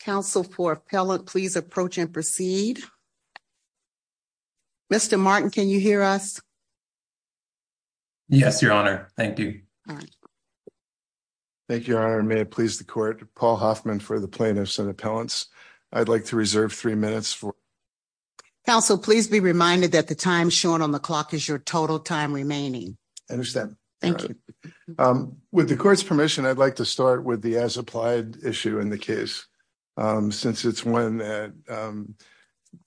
Counsel for appellant please approach and proceed. Mr. Martin, can you hear us? Yes, your honor. Thank you. Thank you, your honor. May it please the court. Paul Hoffman for the plaintiffs and appellants. I'd like to reserve three minutes for... Counsel, please be reminded that the time shown on the clock is your total time remaining. I understand. Thank you. With the court's permission, I'd like to start with the as applied issue in the case since it's one that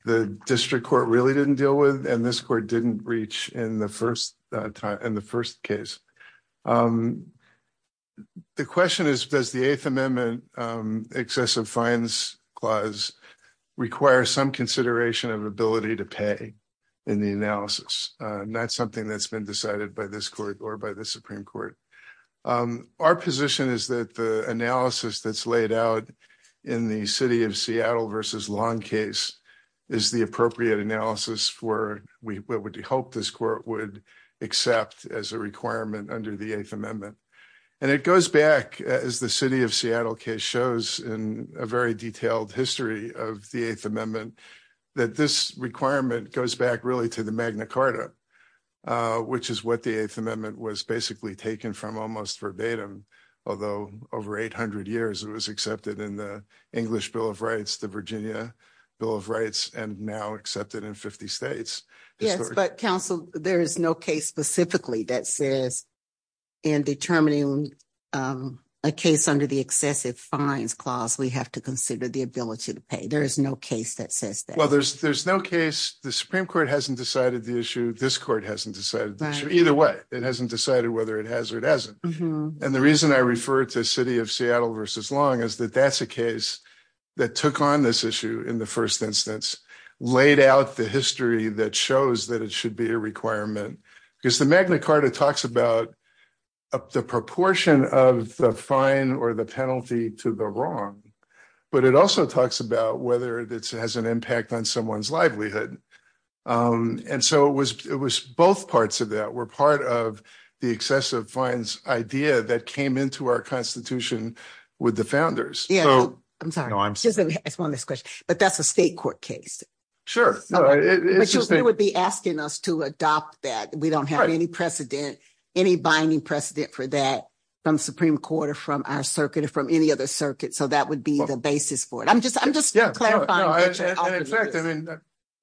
the district court really didn't deal with and this court didn't reach in the first time in the first case. The question is does the eighth amendment excessive fines clause require some consideration of ability to pay in the analysis? Not something that's been decided by this court or by the supreme court. Our position is that the analysis that's laid out in the city of Seattle versus long case is the appropriate analysis for we would hope this court would accept as a requirement under the eighth amendment. And it goes back as the city of Seattle case shows in a very detailed history of the eighth amendment that this requirement goes back really to the Magna Carta, which is what the eighth amendment was basically taken from almost verbatim, although over 800 years it was accepted in the English Bill of Rights, the Virginia Bill of Rights, and now accepted in 50 states. Yes, but counsel, there is no case specifically that says in determining a case under the excessive fines clause, we have to consider the ability to pay. There is no case that says that. Well, there's no case. The supreme court hasn't decided the issue. This court hasn't decided either way. It hasn't decided whether it has or it hasn't. And the reason I refer to city of Seattle versus long is that that's a case that took on this issue in the first instance, laid out the history that shows that it should be a requirement because the Magna Carta talks about the proportion of the fine or the penalty to the wrong, but it also talks about whether it has an impact on someone's livelihood. And so it was both parts of that were part of the excessive fines idea that came into our constitution with the founders. Yeah, I'm sorry. I just want this question, but that's a state court case. Sure. No, it would be asking us to adopt that. We don't have any precedent, any binding precedent for that from Supreme Court or from our circuit or from any other circuit. So that would be the basis for it. I'm just, I'm just clarifying.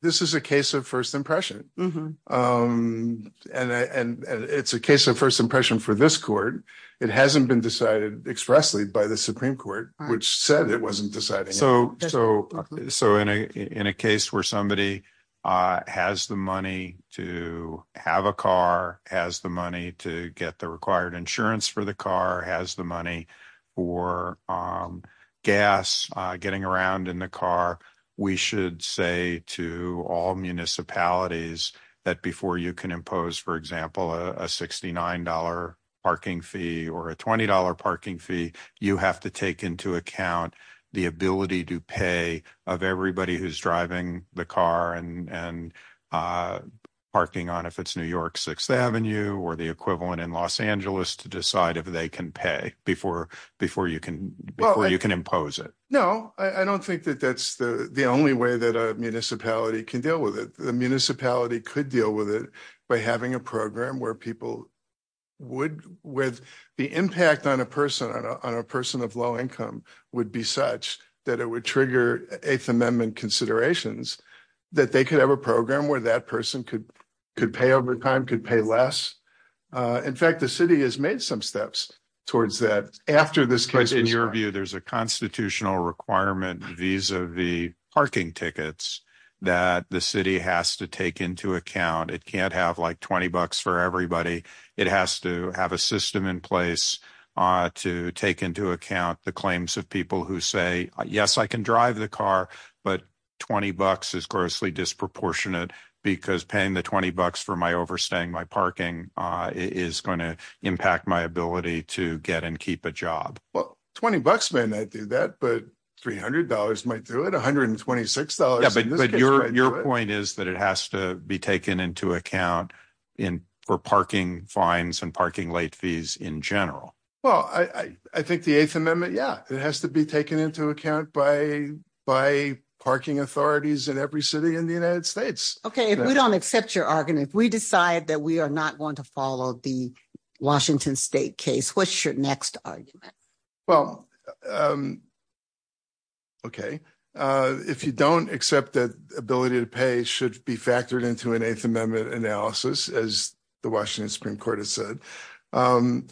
This is a case of first impression. And it's a case of first impression for this court. It hasn't been decided expressly by the Supreme Court, which said it wasn't deciding. So, so in a, in a case where somebody has the money to have a car, has the money to get the required insurance for the car, has the money or gas getting around in the car, we should say to all municipalities that before you can impose, for example, a $69 parking fee or a $20 parking fee, you have to take into account the ability to pay of everybody who's driving the car and, and parking on, if it's New York sixth Avenue or the equivalent in Los Angeles to decide if they can pay before, before you can, before you can impose it. No, I don't think that that's the, the only way that a municipality can deal with it. The municipality could deal with it by having a person of low income would be such that it would trigger eighth amendment considerations that they could have a program where that person could, could pay over time, could pay less. In fact, the city has made some steps towards that after this case. In your view, there's a constitutional requirement vis-a-vis parking tickets that the city has to take into account. It can't have like 20 bucks for everybody. It has to have a system in place to take into account the claims of people who say, yes, I can drive the car, but 20 bucks is grossly disproportionate because paying the 20 bucks for my overstaying my parking is going to impact my ability to get and keep a job. Well, 20 bucks, man, I'd do that, but $300 might do it. $126. But your, your point is that it has to be taken into account in parking fines and parking late fees in general. Well, I, I think the eighth amendment, yeah, it has to be taken into account by, by parking authorities in every city in the United States. Okay. If we don't accept your argument, if we decide that we are not going to follow the Washington state case, what's your next argument? Well, okay. If you don't accept that ability to pay should be factored into an eighth amendment analysis, as the Washington Supreme Court has said. The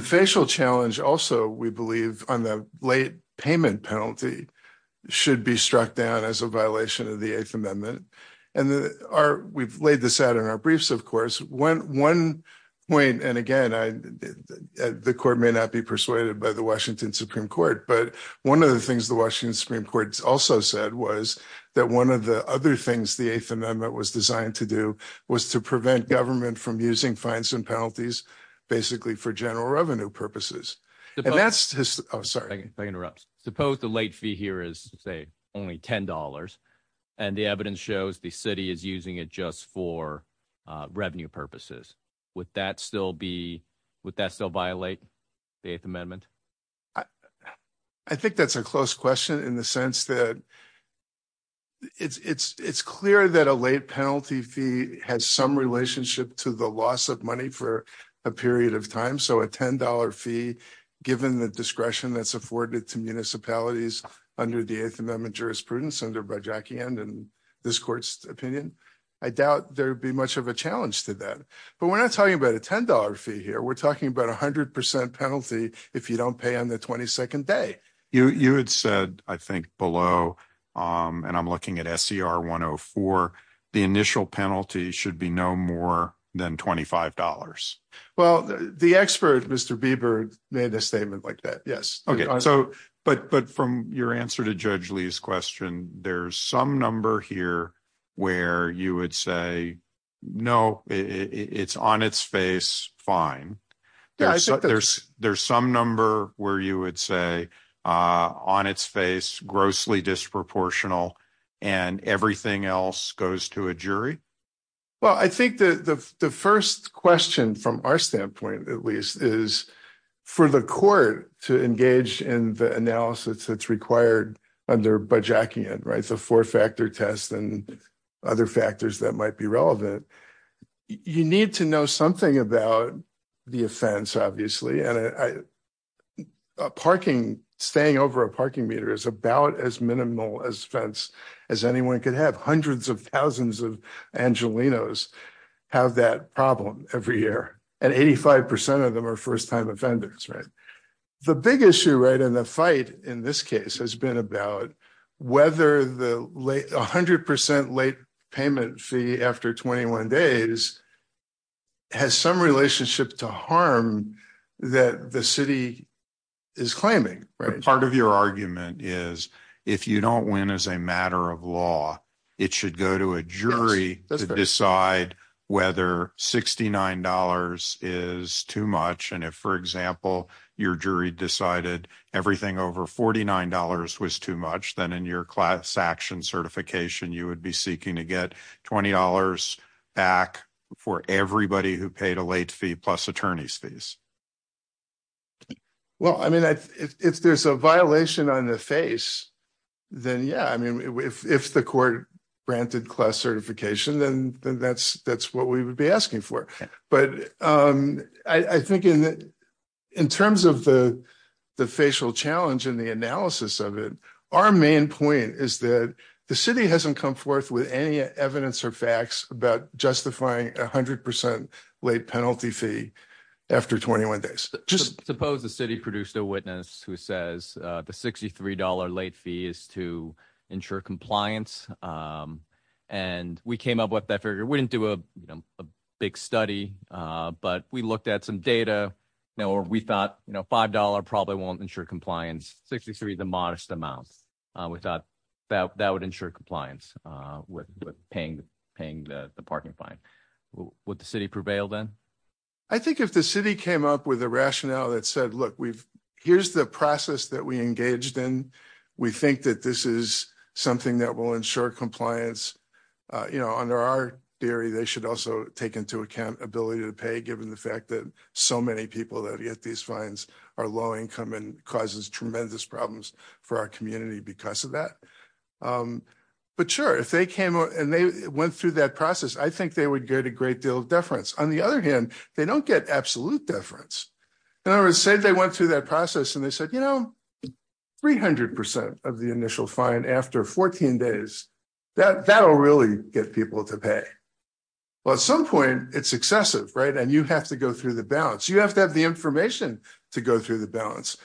facial challenge also, we believe on the late payment penalty should be struck down as a violation of the eighth amendment. And the, our, we've laid this out in our briefs, of course, when one point, and again, I, the court may not be persuaded by the Washington Supreme Court, but one of the things the Washington Supreme Court also said was that one of the other things the eighth amendment was designed to do was to prevent government from using fines and penalties, basically for general revenue purposes. And that's just, oh, sorry, if I interrupt, suppose the late fee here is say only $10 and the evidence shows the city is using it just for revenue purposes. Would that still be, would that still violate the eighth amendment? I think that's a close question in the sense that it's, it's, it's clear that a late penalty fee has some relationship to the loss of money for a period of time. So a $10 fee, given the discretion that's afforded to municipalities under the eighth amendment jurisprudence under by Jackie and, and this court's opinion, I doubt there'd be much of a challenge to that, but we're not talking about a $10 fee here. We're talking about a hundred percent penalty. If you don't pay on the 22nd day, you, you had said, I think below, and I'm looking at SCR one Oh four, the initial penalty should be no more than $25. Well, the expert, Mr. Bieber made a statement like that. Yes. Okay. So, but, but from your answer to judge Lee's question, there's some number here where you would say, no, it's on its face. Fine. There's, there's, there's some number where you would say on its face, grossly disproportional and everything else goes to a jury. Well, I think the, the, the first question from our standpoint, at least is for the court to engage in the analysis that's required under by Jackie and right. So four factor tests and other factors that might be relevant. You need to know something about the offense, obviously, and a parking staying over a parking meter is about as minimal as fence as anyone could have hundreds of thousands of Angelenos have that problem every year. And 85% of them are first-time offenders. The big issue, right. And the fight in this case has been about whether the late a hundred percent late payment fee after 21 days has some relationship to harm that the city is claiming part of your argument is if you don't win as a matter of law, it should go to a jury to decide whether $69 is too much. And if, for example, your jury decided everything over $49 was too much, then in your class action certification, you would be seeking to get $20 back for everybody who paid a late fee plus attorney's fees. Well, I mean, if there's a violation on the face, then yeah, I mean, if the court granted class certification, then that's what we would be asking for. But I think in terms of the facial challenge and the analysis of it, our main point is that the city hasn't come forth with any evidence or facts about justifying a hundred percent late penalty fee after 21 days. Just suppose the city produced a witness who says the $63 late fee is to ensure compliance. And we came up with that figure. We didn't do a big study, but we looked at some data, you know, or we thought, you know, $5 probably won't ensure compliance. 63, the modest amount we thought that would ensure compliance with paying the parking fine. Would the city prevail then? I think if the city came up with a rationale that said, look, here's the process that we engaged in. We think that this is something that will ensure compliance. You know, under our theory, they should also take into account ability to pay given the fact that so many people that get these problems for our community because of that. But sure, if they came and they went through that process, I think they would get a great deal of deference. On the other hand, they don't get absolute deference. In other words, say they went through that process and they said, you know, 300% of the initial fine after 14 days, that'll really get people to pay. Well, at some point, it's excessive, right? And you have to go through the balance. You have to have the information to go through the balance.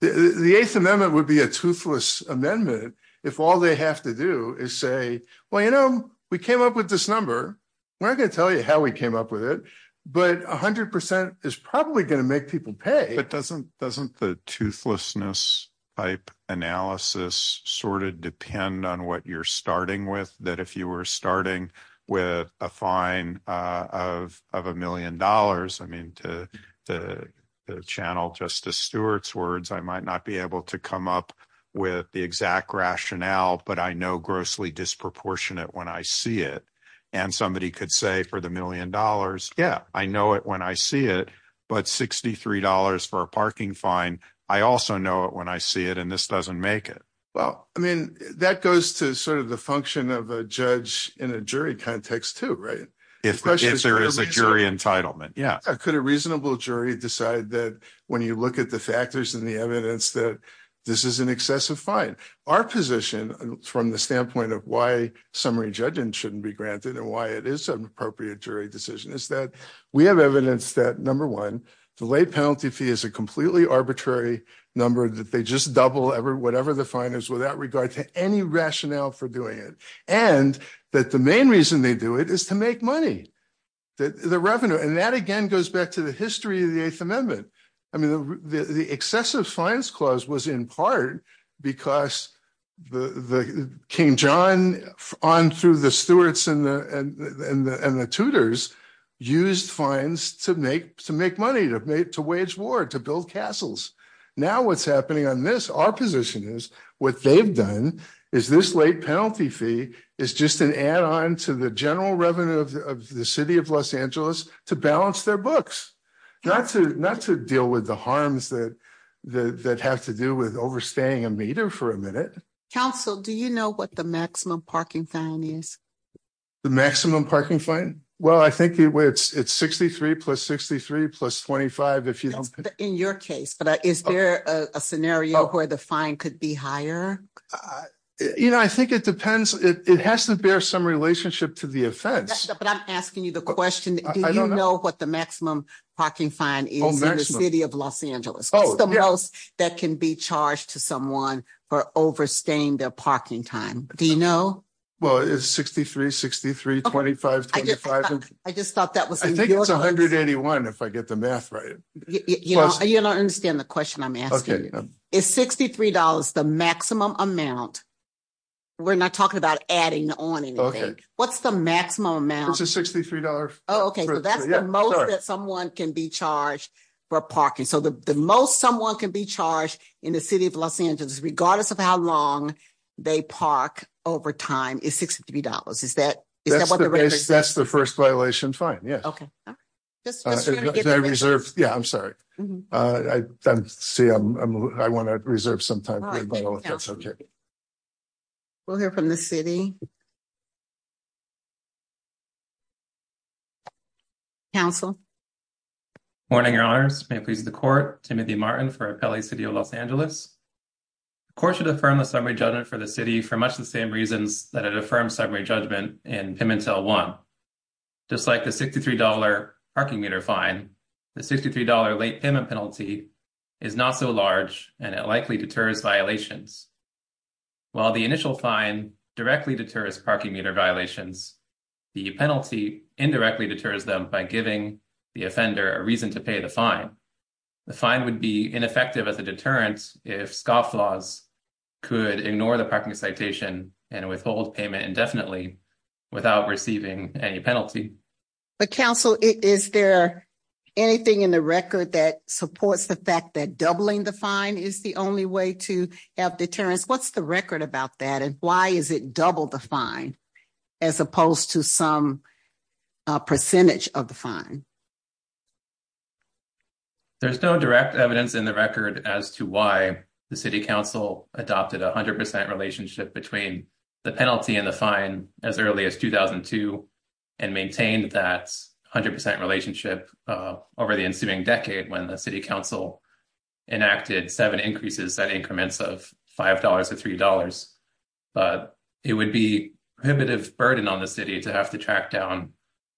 The Eighth Amendment would be a toothless amendment if all they have to do is say, well, you know, we came up with this number. We're not going to tell you how we came up with it, but 100% is probably going to make people pay. But doesn't the toothlessness type analysis sort of depend on what you're starting with? That if you were starting with a fine of a million dollars, I mean, to channel Justice Stewart's words, I might not be able to come up with the exact rationale, but I know grossly disproportionate when I see it. And somebody could say for the million dollars, yeah, I know it when I see it. But $63 for a parking fine, I also know it when I see it, and this doesn't make it. Well, I mean, that goes to the function of a judge in a jury context too, right? If there is a jury entitlement, yeah. Could a reasonable jury decide that when you look at the factors and the evidence that this is an excessive fine? Our position from the standpoint of why summary judgment shouldn't be granted and why it is an appropriate jury decision is that we have evidence that number one, the late penalty fee is a completely arbitrary number that they just double whatever the fine is without regard to any rationale for doing it. And that the main reason they do it is to make money, the revenue. And that again goes back to the history of the Eighth Amendment. I mean, the excessive fines clause was in part because King John on through the Stewart's and the Tudors used fines to make money, to wage war, to build castles. Now what's happening on this, our position is what they've done is this late penalty fee is just an add on to the general revenue of the city of Los Angeles to balance their books, not to deal with the harms that have to do with overstaying a meter for a minute. Council, do you know what the maximum parking fine is? The maximum parking fine? Well, I think it's 63 plus 63 plus 25. In your case, but is there a scenario where the fine could be higher? You know, I think it depends. It has to bear some relationship to the offense, but I'm asking you the question. Do you know what the maximum parking fine is in the city of Los Angeles? The most that can be charged to someone for overstaying their parking time? Do you know? It's 63, 63, 25, 25. I just thought that was. I think it's 181 if I get the math right. You don't understand the question I'm asking. Is $63 the maximum amount? We're not talking about adding on anything. What's the maximum amount? It's a $63. Oh, okay. So that's the most that someone can be charged for parking. So the most someone can be charged in the city of Los Angeles, regardless of how long they park over time is $63. Is that? That's the first violation. Fine. Yeah. Okay. Yeah, I'm sorry. I see. I want to reserve some time. We'll hear from the city. Council. Morning, Your Honors. May it please the court. Timothy Martin for LA City of Los Angeles. The court should affirm the summary judgment for the city for much the same reasons that it affirmed summary judgment in Pimentel 1. Just like the $63 parking meter fine, the $63 late payment penalty is not so large, and it likely deters violations. While the initial fine directly deters parking meter violations, the penalty indirectly deters them by giving the offender a reason to pay the fine. The fine would be ineffective as a deterrent if scofflaws could ignore the parking citation and withhold payment indefinitely without receiving any penalty. But Council, is there anything in the record that supports the fact that doubling the fine is the only way to have deterrence? What's the record about that? And why is it double the fine as opposed to some percentage of the fine? There's no direct evidence in the record as to why the City Council adopted a 100% relationship between the penalty and the fine as early as 2002 and maintained that 100% relationship over the ensuing decade when the City Council enacted seven increases at increments of $5 or $3. But it would be prohibitive burden on the City to have to track down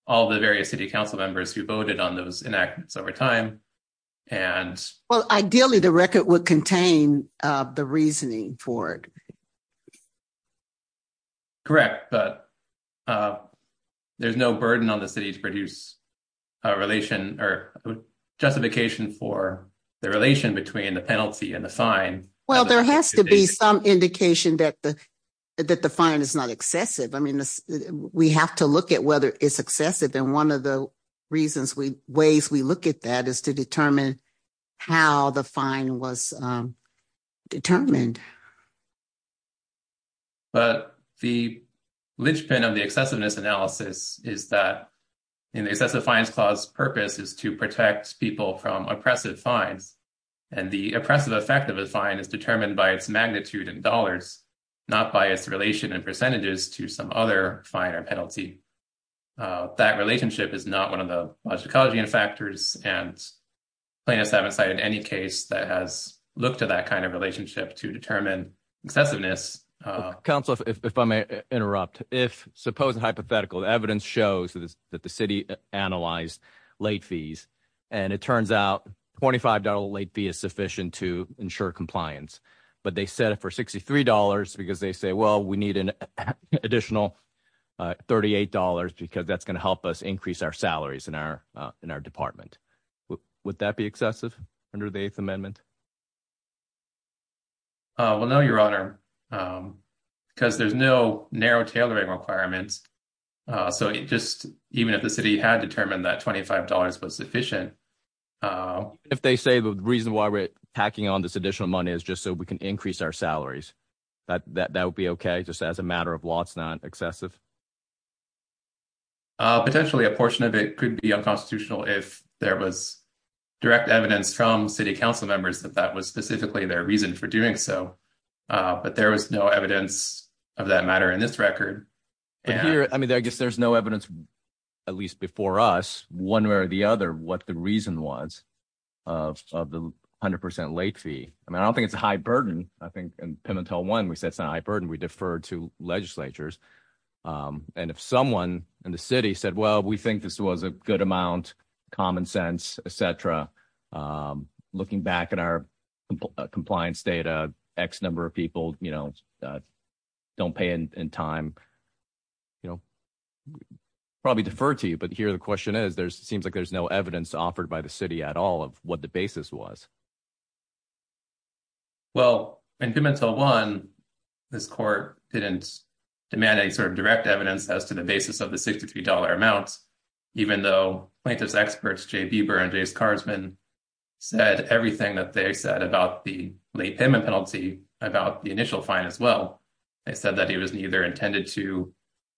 all the various City Council members who voted on those enactments over time. Well, ideally the record would contain the reasoning for it. Correct, but there's no burden on the City to produce a justification for the relation between the penalty and the fine. Well, there has to be some indication that the fine is not excessive. I mean, we have to look at whether it's excessive and one of the reasons, ways we look at that is to determine how the fine was determined. But the linchpin of the excessiveness analysis is that in the Excessive Fines Clause purpose is to people from oppressive fines. And the oppressive effect of a fine is determined by its magnitude in dollars, not by its relation in percentages to some other fine or penalty. That relationship is not one of the logicology and factors and plaintiffs haven't cited any case that has looked at that kind of relationship to determine excessiveness. Council, if I may interrupt, suppose hypothetical evidence shows that the City analyzed late fees and it turns out $25 late fee is sufficient to ensure compliance, but they set it for $63 because they say, well, we need an additional $38 because that's going to help us increase our salaries in our department. Would that be excessive under the Eighth Amendment? Well, no, Your Honor, because there's no narrow tailoring requirements. So just even if the City had determined that $25 was sufficient. If they say the reason why we're packing on this additional money is just so we can increase our salaries, that would be okay just as a matter of law, it's not excessive. Potentially a portion of it could be unconstitutional if there was direct evidence from City Council members that that was specifically their reason for doing so. But there was no evidence of that matter in this record. I mean, I guess there's no evidence, at least before us, one way or the other, what the reason was of the 100% late fee. I mean, I don't think it's a high burden. I think in Pimentel 1, we said it's not a high burden, we deferred to legislatures. And if someone in the City said, we think this was a good amount, common sense, etc., looking back at our compliance data, X number of people don't pay in time, probably defer to you. But here the question is, seems like there's no evidence offered by the City at all of what the basis was. Well, in Pimentel 1, this Court didn't demand any sort of direct evidence as to the basis of $63 amount, even though plaintiffs' experts, Jay Bieber and Jace Carsman, said everything that they said about the late payment penalty, about the initial fine as well. They said that it was neither intended to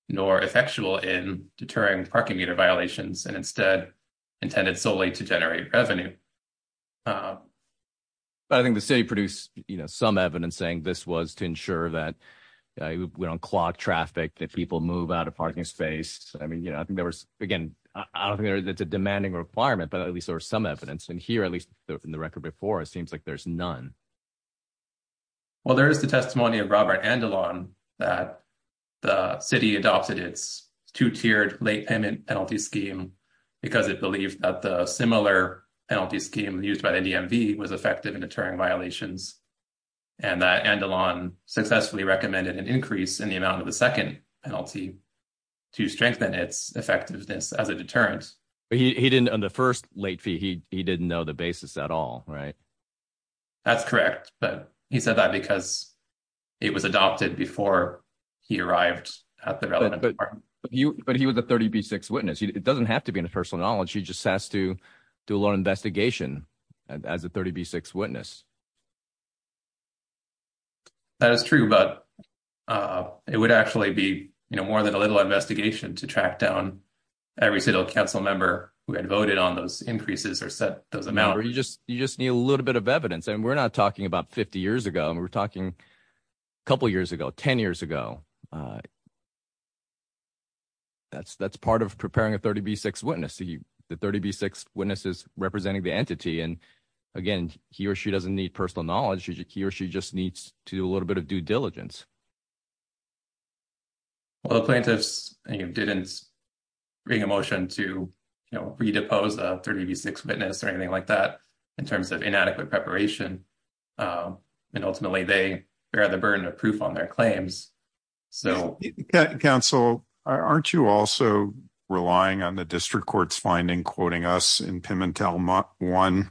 nor effectual in deterring parking meter violations, and instead intended solely to generate revenue. But I think the City produced some evidence saying this was to ensure that we don't clog traffic, that people move out of parking space. I mean, you know, I think there was, again, I don't think it's a demanding requirement, but at least there was some evidence. And here, at least in the record before, it seems like there's none. Well, there is the testimony of Robert Andelon that the City adopted its two-tiered late payment penalty scheme because it believed that the similar penalty scheme used by the DMV was effective in deterring violations. And that Andelon successfully recommended an increase in the amount of the second penalty to strengthen its effectiveness as a deterrent. But he didn't, on the first late fee, he didn't know the basis at all, right? That's correct, but he said that because it was adopted before he arrived at the relevant parking. But he was a 30b6 witness. It doesn't have to be personal knowledge. He just has to do a little investigation as a 30b6 witness. That is true, but it would actually be, you know, more than a little investigation to track down every City Council member who had voted on those increases or set those amounts. You just need a little bit of evidence. And we're not talking about 50 years ago, we're talking a couple years ago, 10 years ago. That's part of preparing a 30b6 witness. The 30b6 witness is representing the entity. And again, he or she doesn't need personal knowledge. He or she just needs to do a little bit of due diligence. Well, the plaintiffs didn't bring a motion to, you know, redepose a 30b6 witness or anything like that in terms of inadequate preparation. And ultimately, they bear the responsibility. Council, aren't you also relying on the district court's finding, quoting us in Pimentel 1,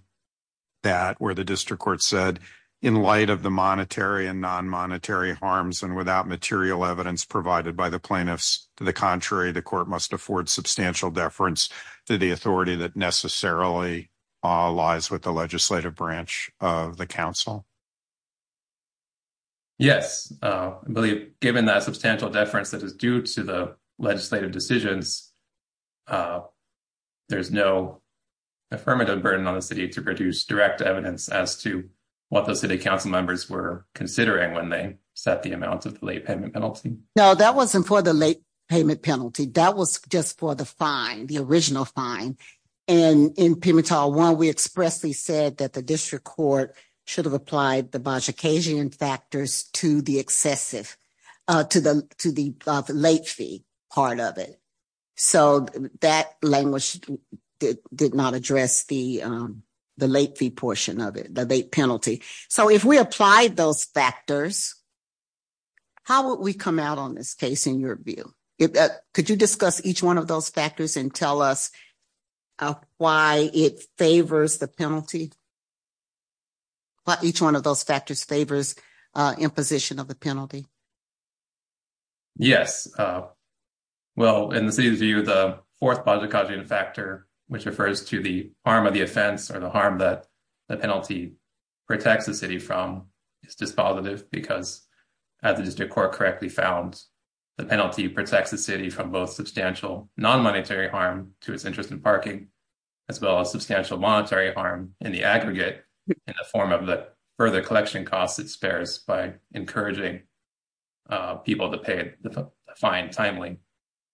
that where the district court said, in light of the monetary and non-monetary harms and without material evidence provided by the plaintiffs, to the contrary, the court must afford substantial deference to the authority that necessarily lies with the plaintiffs. Given that substantial deference that is due to the legislative decisions, there's no affirmative burden on the City to produce direct evidence as to what the City Council members were considering when they set the amount of the late payment penalty. No, that wasn't for the late payment penalty. That was just for the fine, the original fine. And in Pimentel 1, we expressly said that the district court should have applied the to the late fee part of it. So, that language did not address the late fee portion of it, the late penalty. So, if we applied those factors, how would we come out on this case in your view? Could you discuss each one of those factors and tell us why it favors the penalty, why each one of those factors favors imposition of the penalty? Yes. Well, in the City's view, the fourth Baja Cajun factor, which refers to the harm of the offense or the harm that the penalty protects the City from, is dispositive because as the district court correctly found, the penalty protects the City from both substantial non-monetary harm to its interest in parking, as well as substantial monetary harm in the aggregate in the form of the further collection costs it spares by encouraging people to pay the fine timely.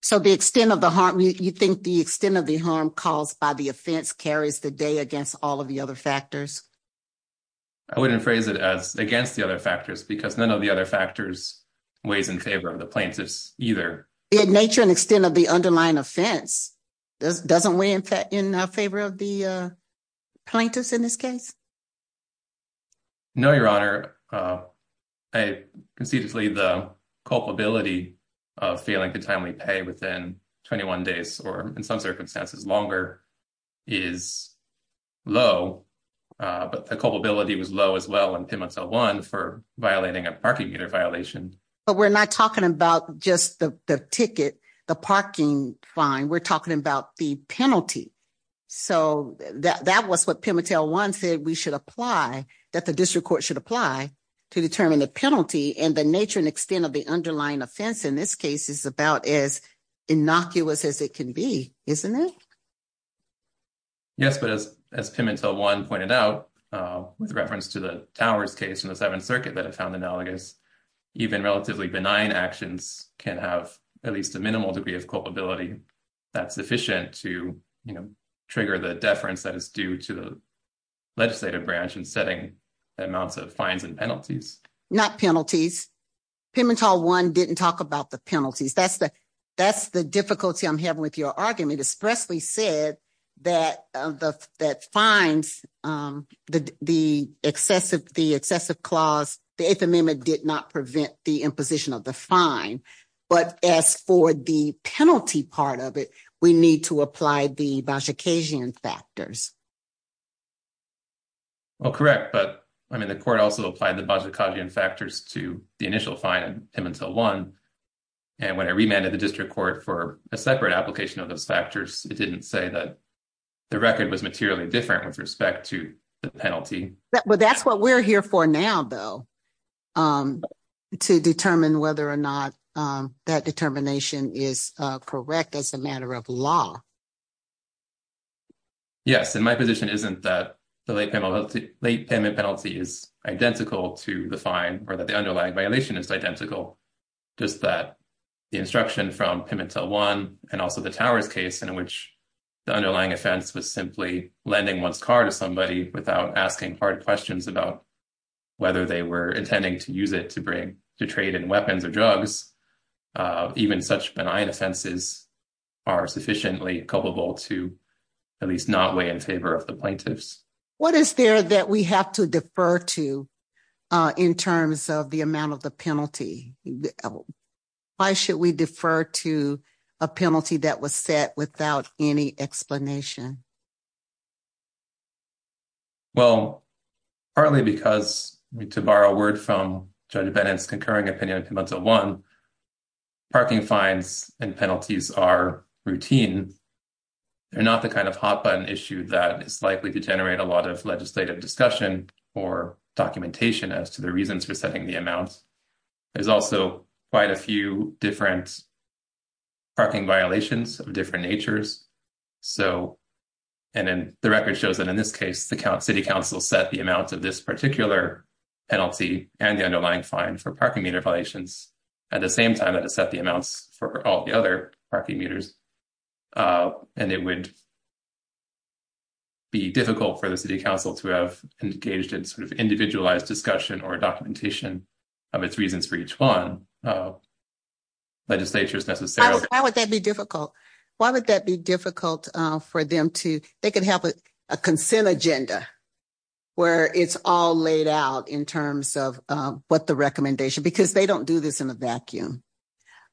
So, the extent of the harm, you think the extent of the harm caused by the offense carries the day against all of the other factors? I wouldn't phrase it as against the other factors because none of the other factors weighs in favor of the plaintiffs either. The nature and extent of the underlying offense doesn't weigh in favor of the plaintiffs in this case? No, Your Honor. Conceituously, the culpability of failing to timely pay within 21 days or in some circumstances longer is low, but the culpability was low as well in Pimotel 1 for violating a parking meter violation. But we're not talking about just the ticket, the parking fine, we're talking about the penalty. So, that was what Pimotel 1 said we should apply, that the district court should apply to determine the penalty and the nature and extent of the underlying offense in this case is about as innocuous as it can be, isn't it? Yes, but as Pimotel 1 pointed out with reference to the Towers case in the Seventh Circuit that at least a minimal degree of culpability, that's sufficient to trigger the deference that is due to the legislative branch in setting the amounts of fines and penalties. Not penalties. Pimotel 1 didn't talk about the penalties. That's the difficulty I'm having with your argument. Espresso said that fines, the excessive clause, the Eighth Amendment did not prevent the imposition of the fine. But as for the penalty part of it, we need to apply the Bojackesian factors. Well, correct. But, I mean, the court also applied the Bojackesian factors to the initial fine in Pimotel 1. And when I remanded the district court for a separate application of those factors, it didn't say that the record was materially different with respect to the penalty. But that's what we're here for now, though, to determine whether or not that determination is correct as a matter of law. Yes, and my position isn't that the late payment penalty is identical to the fine, or that the underlying violation is identical. Just that the instruction from Pimotel 1 and also the Towers case in which the underlying offense was simply lending one's car to somebody without asking hard questions about whether they were intending to use it to trade in weapons or drugs. Even such benign offenses are sufficiently culpable to at least not weigh in favor of the plaintiffs. What is there that we have to defer to in terms of the amount of the penalty? Why should we defer to a penalty that was set without any explanation? Well, partly because, to borrow a word from Judge Bennett's concurring opinion of Pimotel 1, parking fines and penalties are routine. They're not the kind of hot-button issue that is likely to generate a lot of legislative discussion or documentation as to the reasons for setting the amount. There's also quite a few different parking violations of different natures. So, and then the record shows that in this case the City Council set the amount of this particular penalty and the underlying fine for parking meter violations at the same time that it set the amounts for all the other parking meters. And it would be difficult for the City Council to have engaged in sort of individualized discussion or documentation of its reasons for each one. Why would that be difficult? Why would that be difficult for them to, they could have a consent agenda where it's all laid out in terms of what the recommendation, because they don't do this in a vacuum.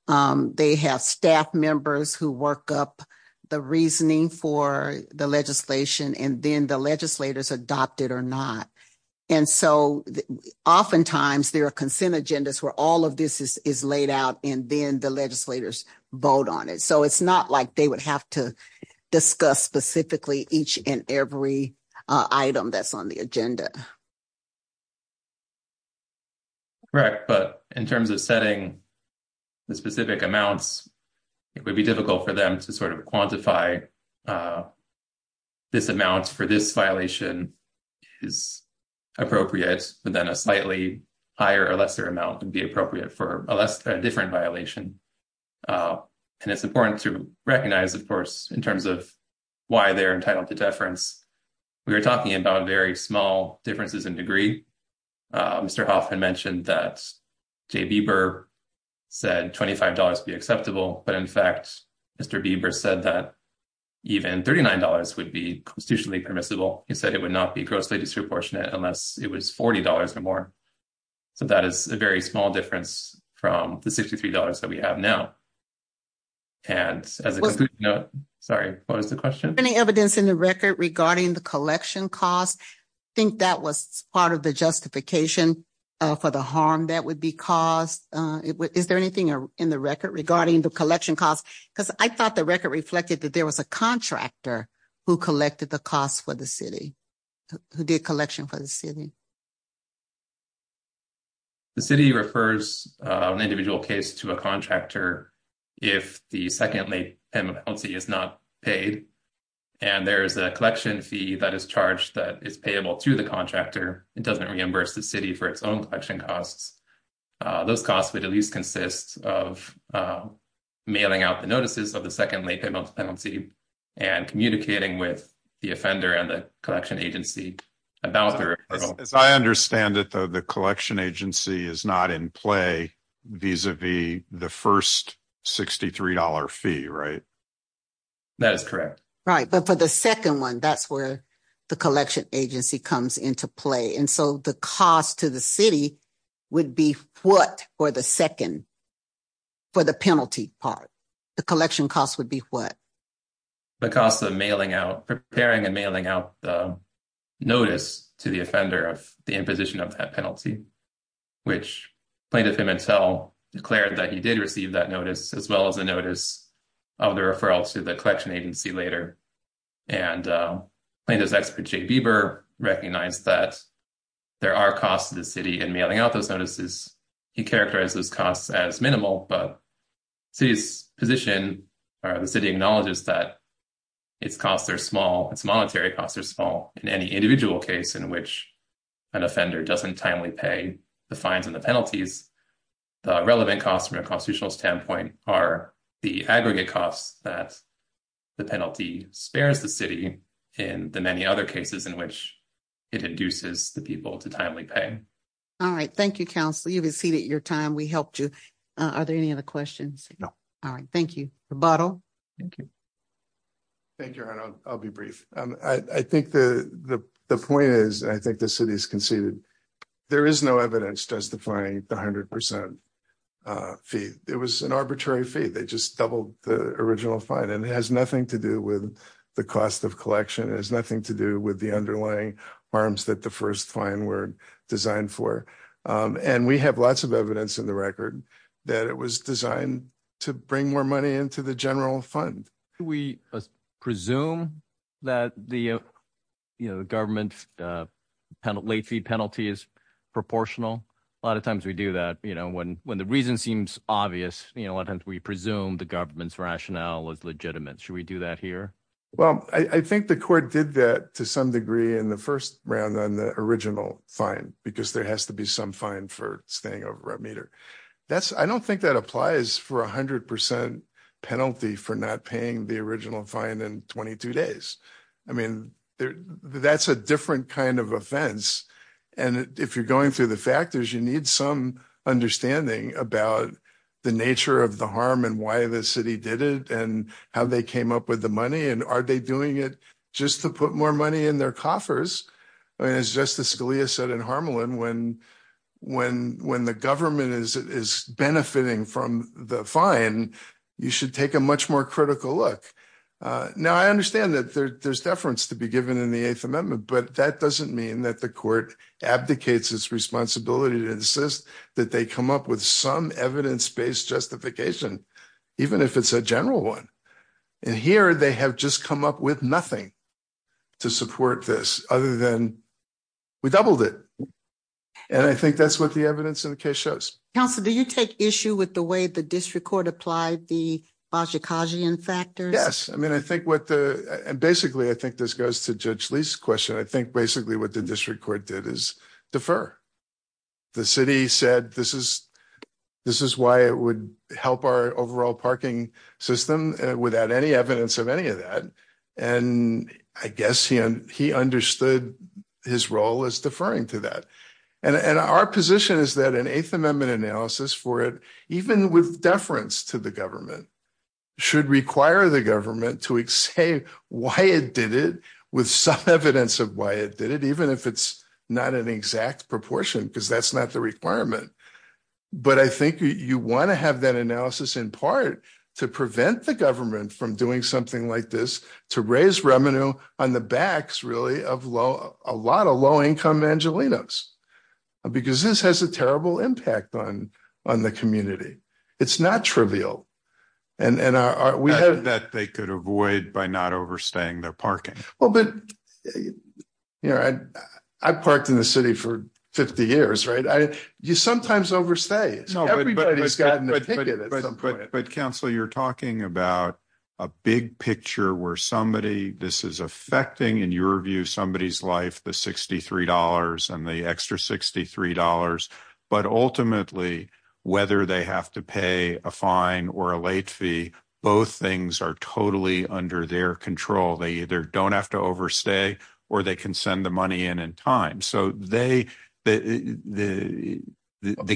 They have staff members who work up the reasoning for the legislation, and then the legislators adopt it or not. And so, oftentimes there are consent agendas where all of this is laid out and then the legislators vote on it. So, it's not like they would have to discuss specifically each and every item that's on the agenda. Correct. But in terms of setting the specific amounts, it would be difficult for them to sort of quantify this amount for this violation is appropriate, but then a slightly higher or lesser amount would be appropriate for a different violation. And it's important to recognize, of course, in terms of why they're entitled to deference. We were talking about very small differences in degree. Mr. Hoffman mentioned that Jay Bieber said $25 would be acceptable, but in fact, Mr. Bieber said that even $39 would be constitutionally permissible. He said it would not be grossly disproportionate unless it was $40 or more. So, that is a very small difference from the $63 that we have now. And as a note, sorry, what was the question? Any evidence in the record regarding the collection costs? I think that was part of the justification for the harm that would be caused. Is there anything in the record regarding the collection costs? Because I thought the record reflected that there was a contractor who collected the costs for the city, who did collection for the city. The city refers an individual case to a contractor if the second late penalty is not paid. And there is a collection fee that is charged that is payable to the contractor. It doesn't reimburse the city for its own collection costs. Those costs would at least consist of mailing out notices of the second late penalty and communicating with the offender and the collection agency about their- As I understand it, though, the collection agency is not in play vis-a-vis the first $63 fee, right? That is correct. Right. But for the second one, that's where the collection agency comes into play. And so, the cost to the city would be what for the second, for the penalty part? The collection cost would be what? The cost of preparing and mailing out the notice to the offender of the imposition of that penalty, which Plaintiff Immantel declared that he did receive that notice, as well as a notice of the referral to the collection agency later. And Plaintiff's expert Jay Bieber recognized that there are costs to the city in mailing out notices. He characterized those costs as minimal, but the city acknowledges that its costs are small, its monetary costs are small. In any individual case in which an offender doesn't timely pay the fines and the penalties, the relevant costs from a constitutional standpoint are the aggregate costs that the penalty spares the city in the many other cases in which it induces the people to timely pay. All right. Thank you, counsel. You've exceeded your time. We helped you. Are there any other questions? No. All right. Thank you. Rebuttal? Thank you. Thank you, Your Honor. I'll be brief. I think the point is, and I think the city's conceded, there is no evidence justifying the 100% fee. It was an arbitrary fee. They just doubled the original fine. And it has nothing to do with the cost of collection. It has nothing to do with the underlying harms that the first fine were designed for. And we have lots of evidence in the record that it was designed to bring more money into the general fund. We presume that the government late fee penalty is proportional. A lot of times we do that. When the reason seems obvious, a lot of times we presume the government's rationale is legitimate. Should we do that here? Well, I think the court did that to some degree in the first round on the original fine, because there has to be some fine for staying over a meter. I don't think that applies for a 100% penalty for not paying the original fine in 22 days. I mean, that's a different kind of offense. And if you're going through the factors, you need some understanding about the nature of the harm and why the city did it, and how they came up with the money, and are they doing it just to put more money in their coffers? As Justice Scalia said in Harmelin, when the government is benefiting from the fine, you should take a much more critical look. Now, I understand that there's deference to be given in the Eighth Amendment, but that doesn't mean that the court abdicates its responsibility to insist that they come up with some evidence-based justification, even if it's a general one. And here, they have just come up with nothing to support this, other than, we doubled it. And I think that's what the evidence in the case shows. Counsel, do you take issue with the way the district court applied the Bozsikagian factors? Yes. I mean, I think what the... district court did is defer. The city said, this is why it would help our overall parking system without any evidence of any of that. And I guess he understood his role as deferring to that. And our position is that an Eighth Amendment analysis for it, even with deference to the government, should require the government to say why it did it with some evidence of why it did it, even if it's not an exact proportion, because that's not the requirement. But I think you want to have that analysis in part to prevent the government from doing something like this, to raise revenue on the backs, really, of a lot of low-income Angelenos. Because this has a terrible impact on the community. It's not trivial. That they could avoid by not overstaying their parking. Well, but, you know, I parked in the city for 50 years, right? You sometimes overstay. But, counsel, you're talking about a big picture where somebody, this is affecting, in your view, somebody's life, the $63 and the extra $63. But ultimately, whether they have to overstay or they can send the money in in time. So the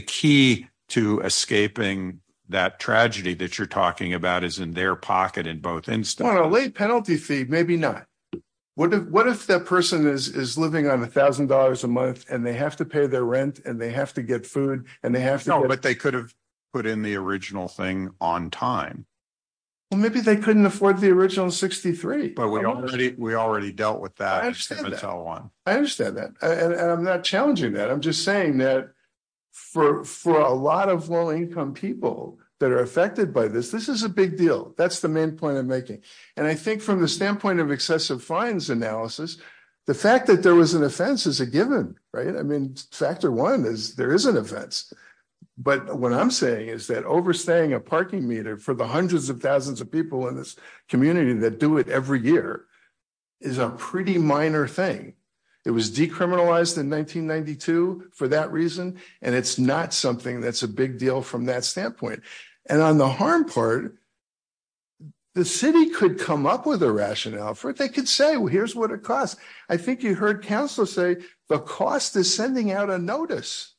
key to escaping that tragedy that you're talking about is in their pocket in both instances. Well, a late penalty fee, maybe not. What if that person is living on $1,000 a month and they have to pay their rent and they have to get food and they have to get... No, but they could have put in the original thing on time. Well, maybe they couldn't afford the original $63. We already dealt with that. I understand that. And I'm not challenging that. I'm just saying that for a lot of low-income people that are affected by this, this is a big deal. That's the main point I'm making. And I think from the standpoint of excessive fines analysis, the fact that there was an offense is a given, right? I mean, factor one is there is an offense. But what I'm saying is that overstaying a parking meter for the hundreds of thousands of people in this community that do it every year is a pretty minor thing. It was decriminalized in 1992 for that reason. And it's not something that's a big deal from that standpoint. And on the harm part, the city could come up with a rationale for it. They could say, well, here's what it costs. I think you heard council say the cost is sending out a notice.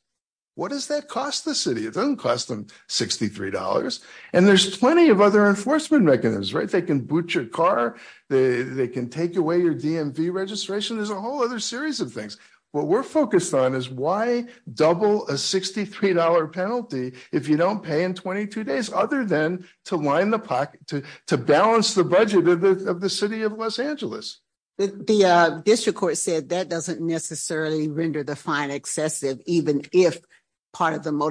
What does that cost the city? It doesn't cost them $63. And there's plenty of other enforcement mechanisms, right? They can boot your car. They can take away your DMV registration. There's a whole other series of things. What we're focused on is why double a $63 penalty if you don't pay in 22 days, other than to line the pocket, to balance the budget of the city of Los Angeles. The district court said that doesn't necessarily render the fine excessive, even if part of the Go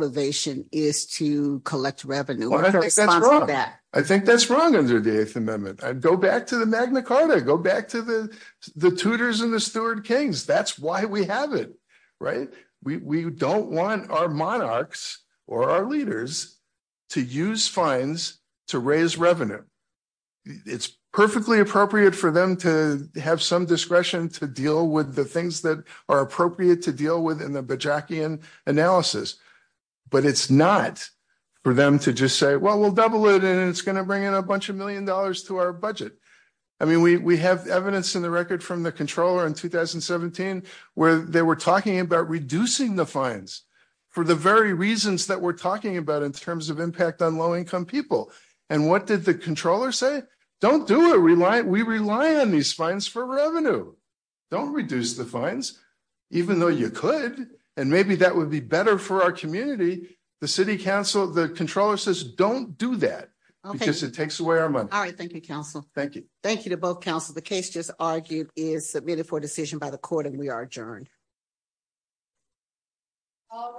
back to the Magna Carta. Go back to the tutors and the steward kings. That's why we have it, right? We don't want our monarchs or our leaders to use fines to raise revenue. It's perfectly appropriate for them to have some discretion to deal with the things that are appropriate to deal with in the Bojackian analysis. But it's not for them to just say, we'll double it. And it's going to bring in a bunch of million dollars to our budget. I mean, we have evidence in the record from the controller in 2017, where they were talking about reducing the fines for the very reasons that we're talking about in terms of impact on low-income people. And what did the controller say? Don't do it. We rely on these fines for revenue. Don't reduce the fines, even though you could, and maybe that would be better for our community. The city council, the controller says, don't do that, because it takes away our money. All right. Thank you, counsel. Thank you. Thank you to both counsel. The case just argued is submitted for decision by the court and we are adjourned. All right.